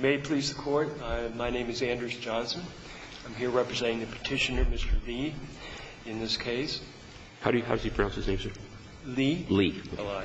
May it please the Court, my name is Andrews Johnson. I'm here representing the Petitioner, Mr. Li, in this case. How does he pronounce his name, sir? Li. Li. Oh,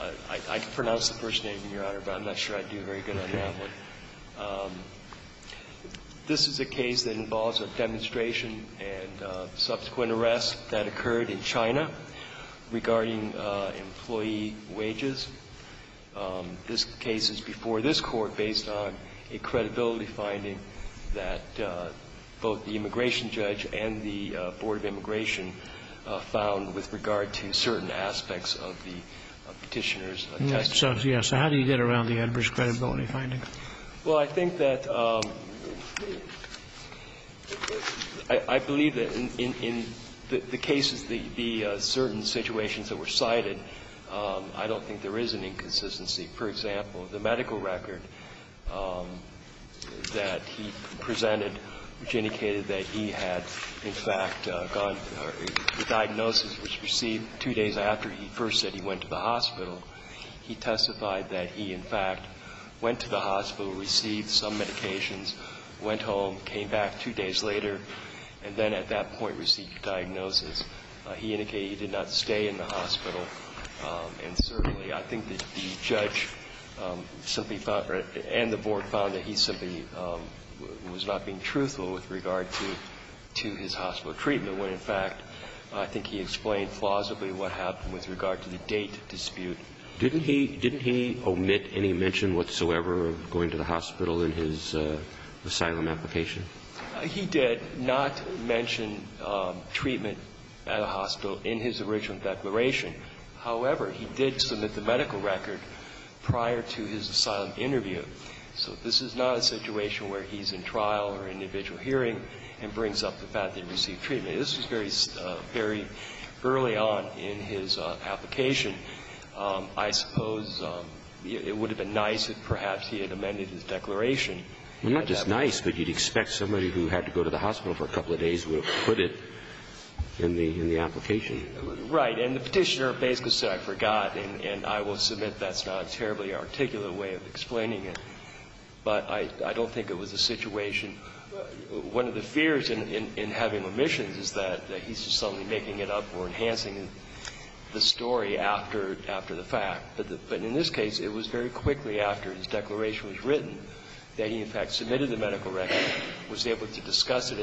I see. I can pronounce the first name, Your Honor, but I'm not sure I'd do very good on that one. This is a case that involves a demonstration and subsequent arrest that occurred in China regarding employee wages. This case is before this Court based on a credibility finding that both the immigration judge and the Board of Immigration found with regard to certain aspects of the Petitioner's testimony. So how do you get around the Enbridge credibility finding? Well, I think that I believe that in the cases, the certain situations that were cited, I don't think there is an inconsistency. For example, the medical record that he presented, which indicated that he had, in fact, gone to a diagnosis which was received two days after he first said he went to the hospital, he testified that he, in fact, went to the hospital, received some medications, went home, came back two days later, and then at that point received a diagnosis. He indicated he did not stay in the hospital. And certainly I think that the judge simply found, and the Board found, that he simply was not being truthful with regard to his hospital treatment, when, in fact, I think he explained plausibly what happened with regard to the date dispute. Didn't he omit any mention whatsoever of going to the hospital in his asylum application? He did not mention treatment at a hospital in his original declaration. However, he did submit the medical record prior to his asylum interview. So this is not a situation where he's in trial or in individual hearing and brings up the fact that he received treatment. This was very early on in his application. I suppose it would have been nice if perhaps he had amended his declaration. Not just nice, but you'd expect somebody who had to go to the hospital for a couple of days would have put it in the application. Right. And the Petitioner basically said, I forgot, and I will submit that's not a terribly articulate way of explaining it. But I don't think it was a situation. One of the fears in having omissions is that he's just suddenly making it up or enhancing the story after the fact. And so I don't think it was a matter of enhancing his case later, since it was done for review by the asylum interviewer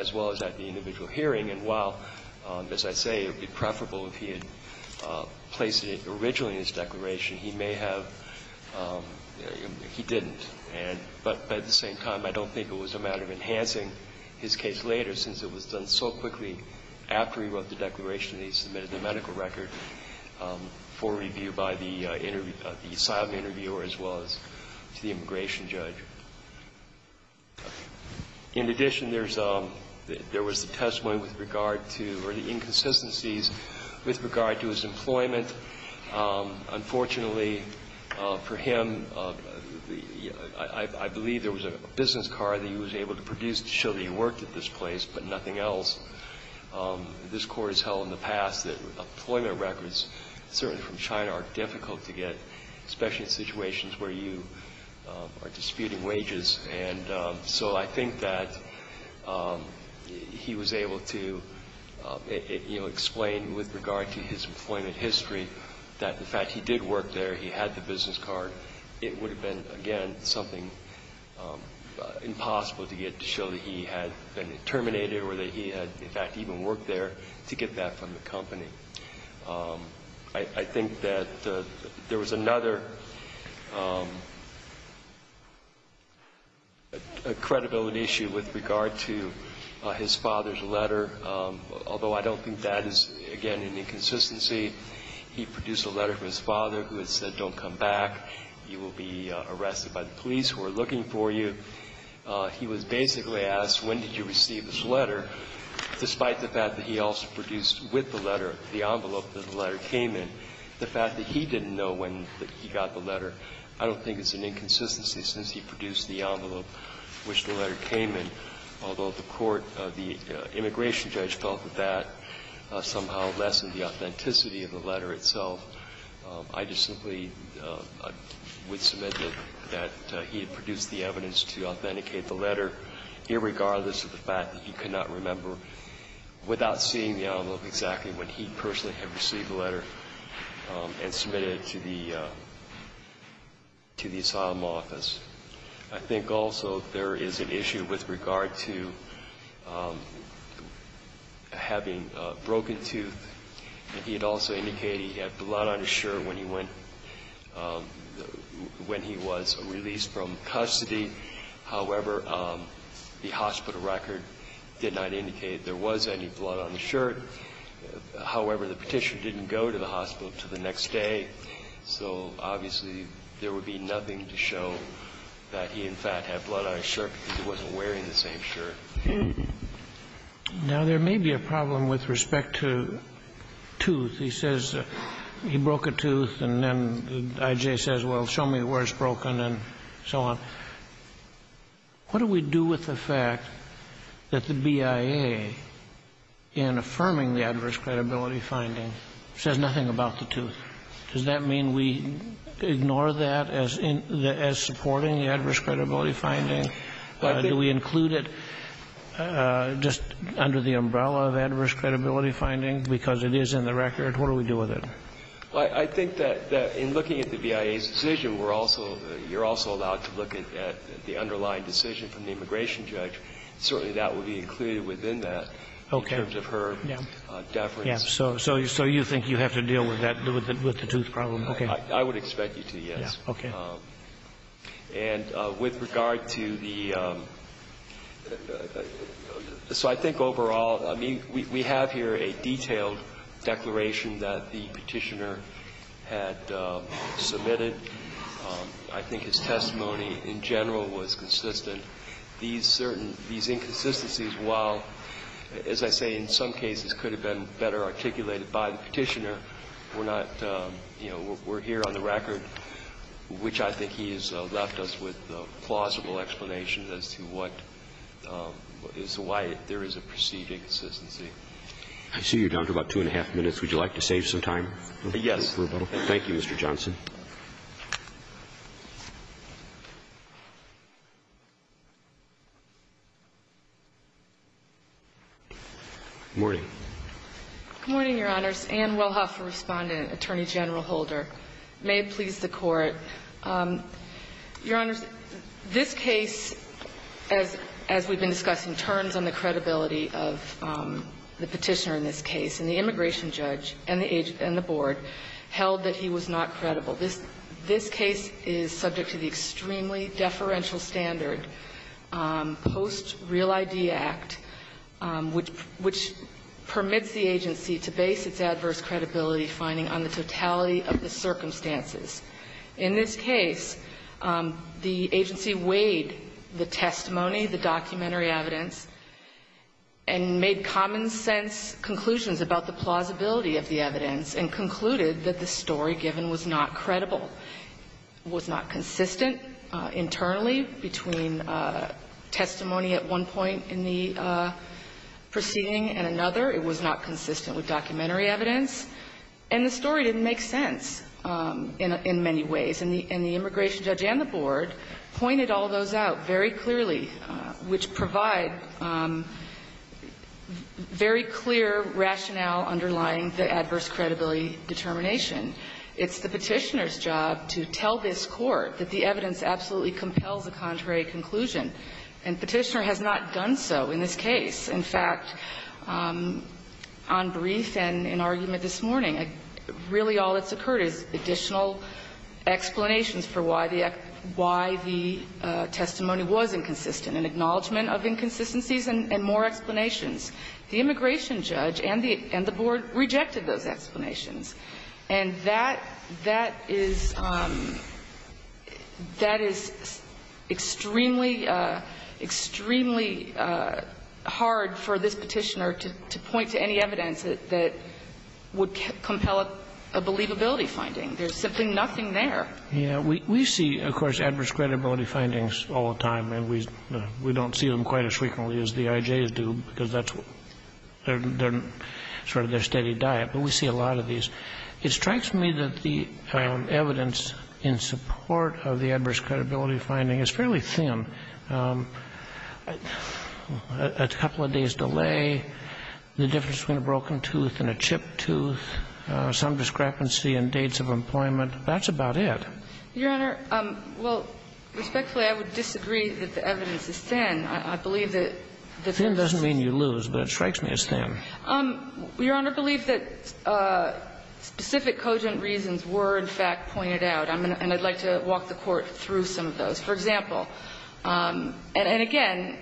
as well as the individual hearing. And while, as I say, it would be preferable if he had placed it originally in his declaration, he may have – he didn't. But at the same time, I don't think it was a matter of enhancing his case later, since it was done so quickly after he wrote the declaration that he submitted the medical record for review by the asylum interviewer as well as to the immigration judge. In addition, there's a – there was a testimony with regard to – or the inconsistencies with regard to his employment. Unfortunately for him, I believe there was a business card that he was able to produce to show that he worked at this place, but nothing else. This Court has held in the past that employment records, certainly from China, are difficult to get, especially in situations where you are disputing wages. And so I think that he was able to, you know, explain with regard to his employment history that the fact he did work there, he had the business card, it would have been, again, something impossible to get to show that he had been terminated or that he had, in fact, even worked there to get that from the company. I think that there was another credibility issue with regard to his father's letter, although I don't think that is, again, an inconsistency. He produced a letter from his father who had said, don't come back, you will be arrested by the police who are looking for you. He was basically asked, when did you receive this letter, despite the fact that he also produced with the letter the envelope that the letter came in. The fact that he didn't know when he got the letter, I don't think is an inconsistency since he produced the envelope which the letter came in, although the court, the immigration judge felt that that somehow lessened the authenticity of the letter itself. I just simply would submit that he had produced the evidence to authenticate the letter, irregardless of the fact that he could not remember, without seeing the envelope, exactly when he personally had received the letter and submitted it to the asylum office. I think also there is an issue with regard to having broken tooth. He had also indicated he had blood in his mouth. He had blood on his shirt when he went, when he was released from custody. However, the hospital record did not indicate there was any blood on his shirt. However, the Petitioner didn't go to the hospital until the next day, so obviously there would be nothing to show that he, in fact, had blood on his shirt because he wasn't wearing the same shirt. Now, there may be a problem with respect to tooth. He says he broke a tooth and then I.J. says, well, show me where it's broken and so on. What do we do with the fact that the BIA, in affirming the adverse credibility finding, says nothing about the tooth? Does that mean we ignore that as supporting the adverse credibility finding? Do we include it just under the umbrella of adverse credibility finding because it is in the record? What do we do with it? I think that in looking at the BIA's decision, we're also, you're also allowed to look at the underlying decision from the immigration judge. Certainly that would be included within that in terms of her deference. So you think you have to deal with that, with the tooth problem? I would expect you to, yes. Okay. And with regard to the, so I think overall, I mean, we have here a detailed declaration that the Petitioner had submitted. I think his testimony in general was consistent. These certain, these inconsistencies, while, as I say, in some cases could have been better articulated by the Petitioner, were not, you know, were here on the record, which I think he has left us with a plausible explanation as to what, as to why there is a perceived inconsistency. I see you're down to about two and a half minutes. Would you like to save some time? Yes. Thank you, Mr. Johnson. Good morning. Good morning, Your Honors. Anne Wellhoff for respondent, Attorney General Holder. May it please the Court, Your Honors, this case, as we've been discussing, turns on the credibility of the Petitioner in this case. And the immigration judge and the board held that he was not credible. This case is subject to the extremely deferential standard post-Real ID Act, which permits the agency to base its adverse credibility finding on the totality of the circumstances. In this case, the agency weighed the testimony, the documentary evidence, and made common sense conclusions about the plausibility of the evidence, and concluded that the story given was not credible, was not consistent internally between testimony at one point in the proceeding and another. It was not consistent with documentary evidence. And the story didn't make sense in many ways. And the immigration judge and the board pointed all those out very clearly, which provide very clear rationale underlying the adverse credibility determination. It's the Petitioner's job to tell this court that the evidence absolutely compels a contrary conclusion. And Petitioner has not done so in this case. In fact, on brief and in argument this morning, really all that's occurred is additional explanations for why the testimony was inconsistent. An acknowledgment of inconsistencies and more explanations. The immigration judge and the board rejected those explanations. And that is extremely, hard for this Petitioner to point to any evidence that would compel a believability finding. There's simply nothing there. Yeah. We see, of course, adverse credibility findings all the time. And we don't see them quite as frequently as the IJs do, because that's sort of their steady diet. But we see a lot of these. It strikes me that the evidence in support of the adverse credibility finding is fairly thin. A couple of days' delay, the difference between a broken tooth and a chipped tooth, some discrepancy in dates of employment, that's about it. Your Honor, well, respectfully, I would disagree that the evidence is thin. I believe that the difference is thin. Thin doesn't mean you lose, but it strikes me as thin. Your Honor, I believe that specific cogent reasons were, in fact, pointed out. And I'd like to walk the Court through some of those. For example, and again,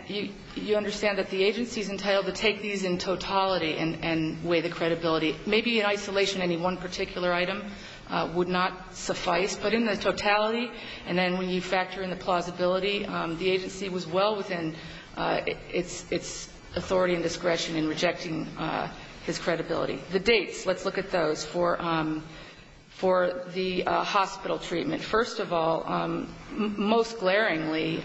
you understand that the agency is entitled to take these in totality and weigh the credibility. Maybe in isolation, any one particular item would not suffice. But in the totality, and then when you factor in the plausibility, the agency was well within its authority and discretion in rejecting his credibility. The dates, let's look at those for the hospital treatment. First of all, most glaringly,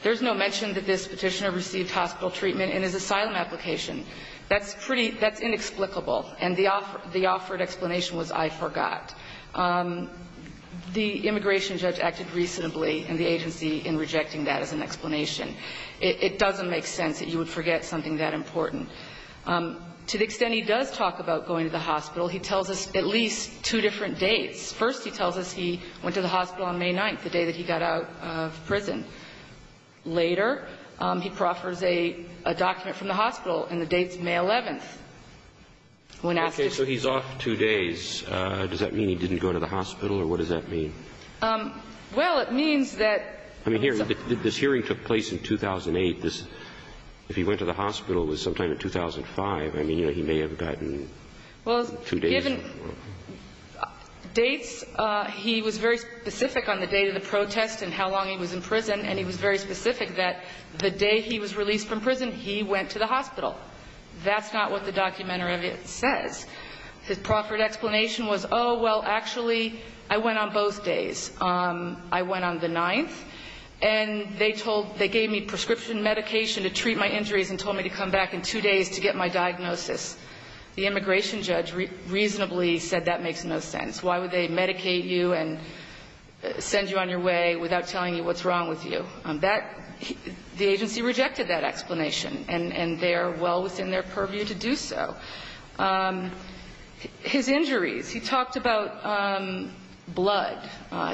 there's no mention that this Petitioner received hospital treatment in his asylum application. That's pretty — that's inexplicable. And the offered explanation was, I forgot. The immigration judge acted reasonably in the agency in rejecting that as an explanation. It doesn't make sense that you would forget something that important. To the extent he does talk about going to the hospital, he tells us at least two different dates. First, he tells us he went to the hospital on May 9th, the day that he got out of prison. Later, he proffers a document from the hospital and the date's May 11th. When asked if he's off two days, does that mean he didn't go to the hospital or what does that mean? Well, it means that the hearing took place in 2008. If he went to the hospital sometime in 2005, I mean, he may have gotten two days. But the different dates, he was very specific on the date of the protest and how long he was in prison, and he was very specific that the day he was released from prison, he went to the hospital. That's not what the document says. His proffered explanation was, oh, well, actually, I went on both days. I went on the 9th, and they told — they gave me prescription medication to treat my injuries and told me to come back in two days to get my diagnosis. The immigration judge reasonably said that makes no sense. Why would they medicate you and send you on your way without telling you what's wrong with you? That — the agency rejected that explanation, and they are well within their purview to do so. His injuries, he talked about blood.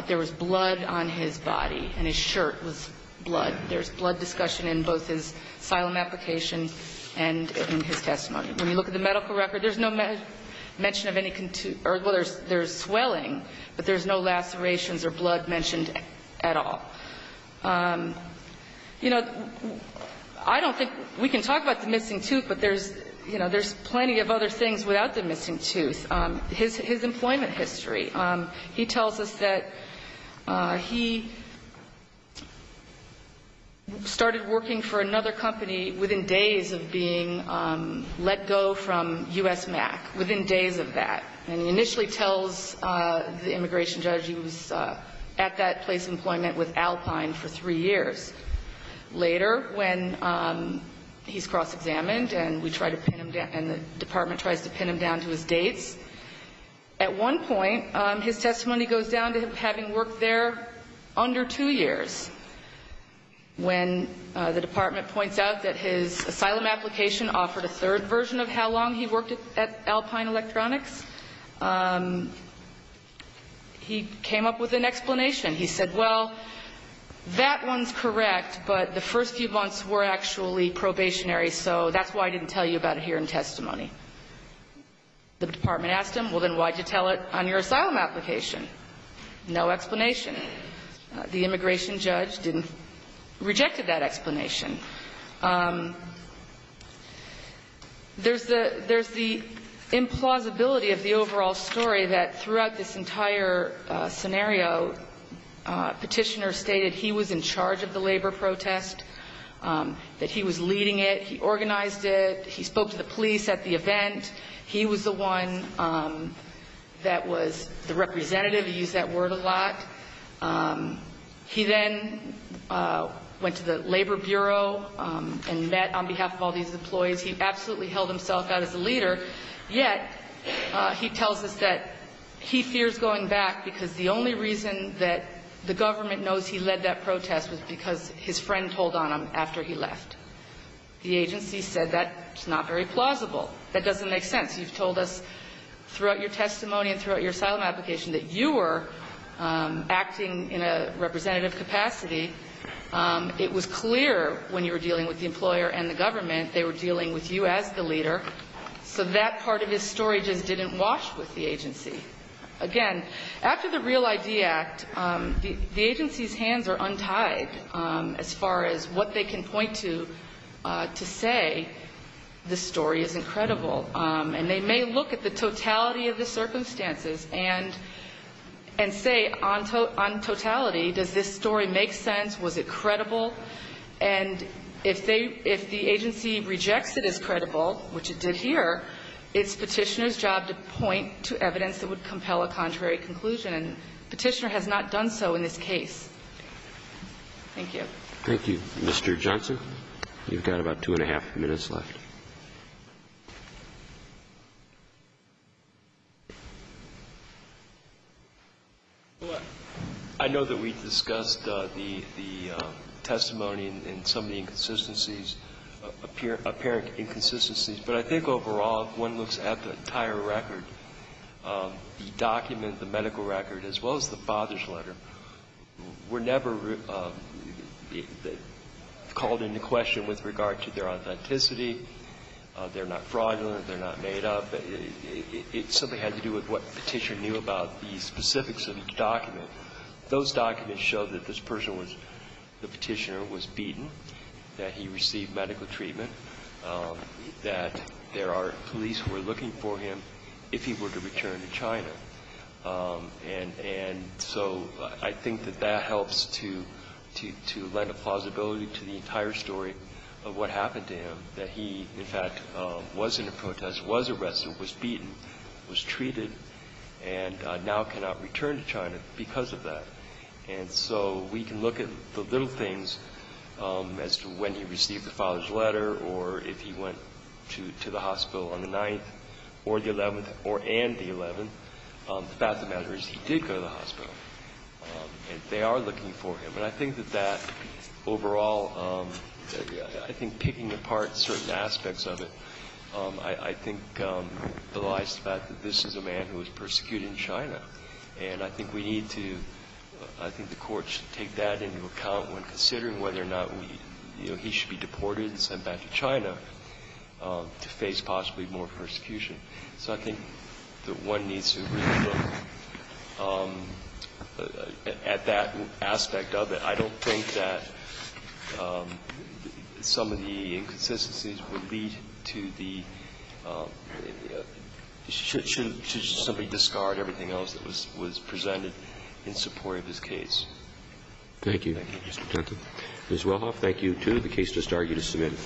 There was blood on his body, and his shirt was blood. There's blood discussion in both his asylum application and in his testimony. When you look at the medical record, there's no mention of any — or, well, there's swelling, but there's no lacerations or blood mentioned at all. You know, I don't think — we can talk about the missing tooth, but there's, you know, there's plenty of other things without the missing tooth. His employment history, he tells us that he started working for another company within days of being let go from U.S. MAC, within days of that. And he initially tells the immigration judge he was at that place of employment with Alpine for three years. Later, when he's cross-examined and we try to pin him down — and the department tries to pin him down to his dates, at one point, his testimony goes down to having worked there under two years. When the department points out that his asylum application offered a third version of how long he worked at Alpine Electronics, he came up with an explanation. He said, well, that one's correct, but the first few months were actually probationary, so that's why I didn't tell you about it here in testimony. The department asked him, well, then why'd you tell it on your asylum application? No explanation. The immigration judge didn't — rejected that explanation. There's the — there's the implausibility of the overall story that throughout this entire scenario, petitioners stated he was in charge of the labor protest, that he was leading it, he organized it. He spoke to the police at the event. He was the one that was the representative. He used that word a lot. He then went to the Labor Bureau and met on behalf of all these employees. He absolutely held himself out as a leader, yet he tells us that he fears going back because the only reason that the government knows he led that protest was because his friend told on him after he left. The agency said that's not very plausible. That doesn't make sense. You've told us throughout your testimony and throughout your asylum application that you were acting in a representative capacity. It was clear when you were dealing with the employer and the government, they were dealing with you as the leader. So that part of his story just didn't wash with the agency. Again, after the Real ID Act, the agency's hands are untied as far as what they can point to to say this story isn't credible. And they may look at the totality of the circumstances and say on totality, does this story make sense? Was it credible? And if the agency rejects it as credible, which it did here, it's Petitioner's job to point to evidence that would compel a contrary conclusion. And Petitioner has not done so in this case. Thank you. Thank you, Mr. Johnson. You've got about two and a half minutes left. I know that we've discussed the testimony and some of the inconsistencies, apparent inconsistencies, but I think overall, one looks at the entire record, the document, the medical record, as well as the father's letter. We're never called into question with regard to their authenticity. They're not fraudulent. They're not made up. It simply had to do with what Petitioner knew about the specifics of the document. Those documents show that this person was, the Petitioner was beaten, that he received medical treatment, that there are police who are looking for him if he were to return to China. And so I think that that helps to lend a plausibility to the entire story of what happened to him, that he, in fact, was in a protest, was arrested, was beaten, was treated, and now cannot return to China because of that. And so we can look at the little things as to when he received the father's letter or if he went to the hospital on the 9th or the 11th or and the 11th. The fact of the matter is he did go to the hospital, and they are looking for him. And I think that that overall, I think picking apart certain aspects of it, I think belies the fact that this is a man who was persecuted in China. And I think we need to, I think the Court should take that into account when considering whether or not we, you know, he should be deported and sent back to China to face possibly more persecution. So I think that one needs to really look at that aspect of it. I don't think that some of the inconsistencies would lead to the should somebody discard everything else that was presented in support of his case. Thank you, Mr. Tenton. Ms. Wellhoff, thank you, too. The case just argued is submitted.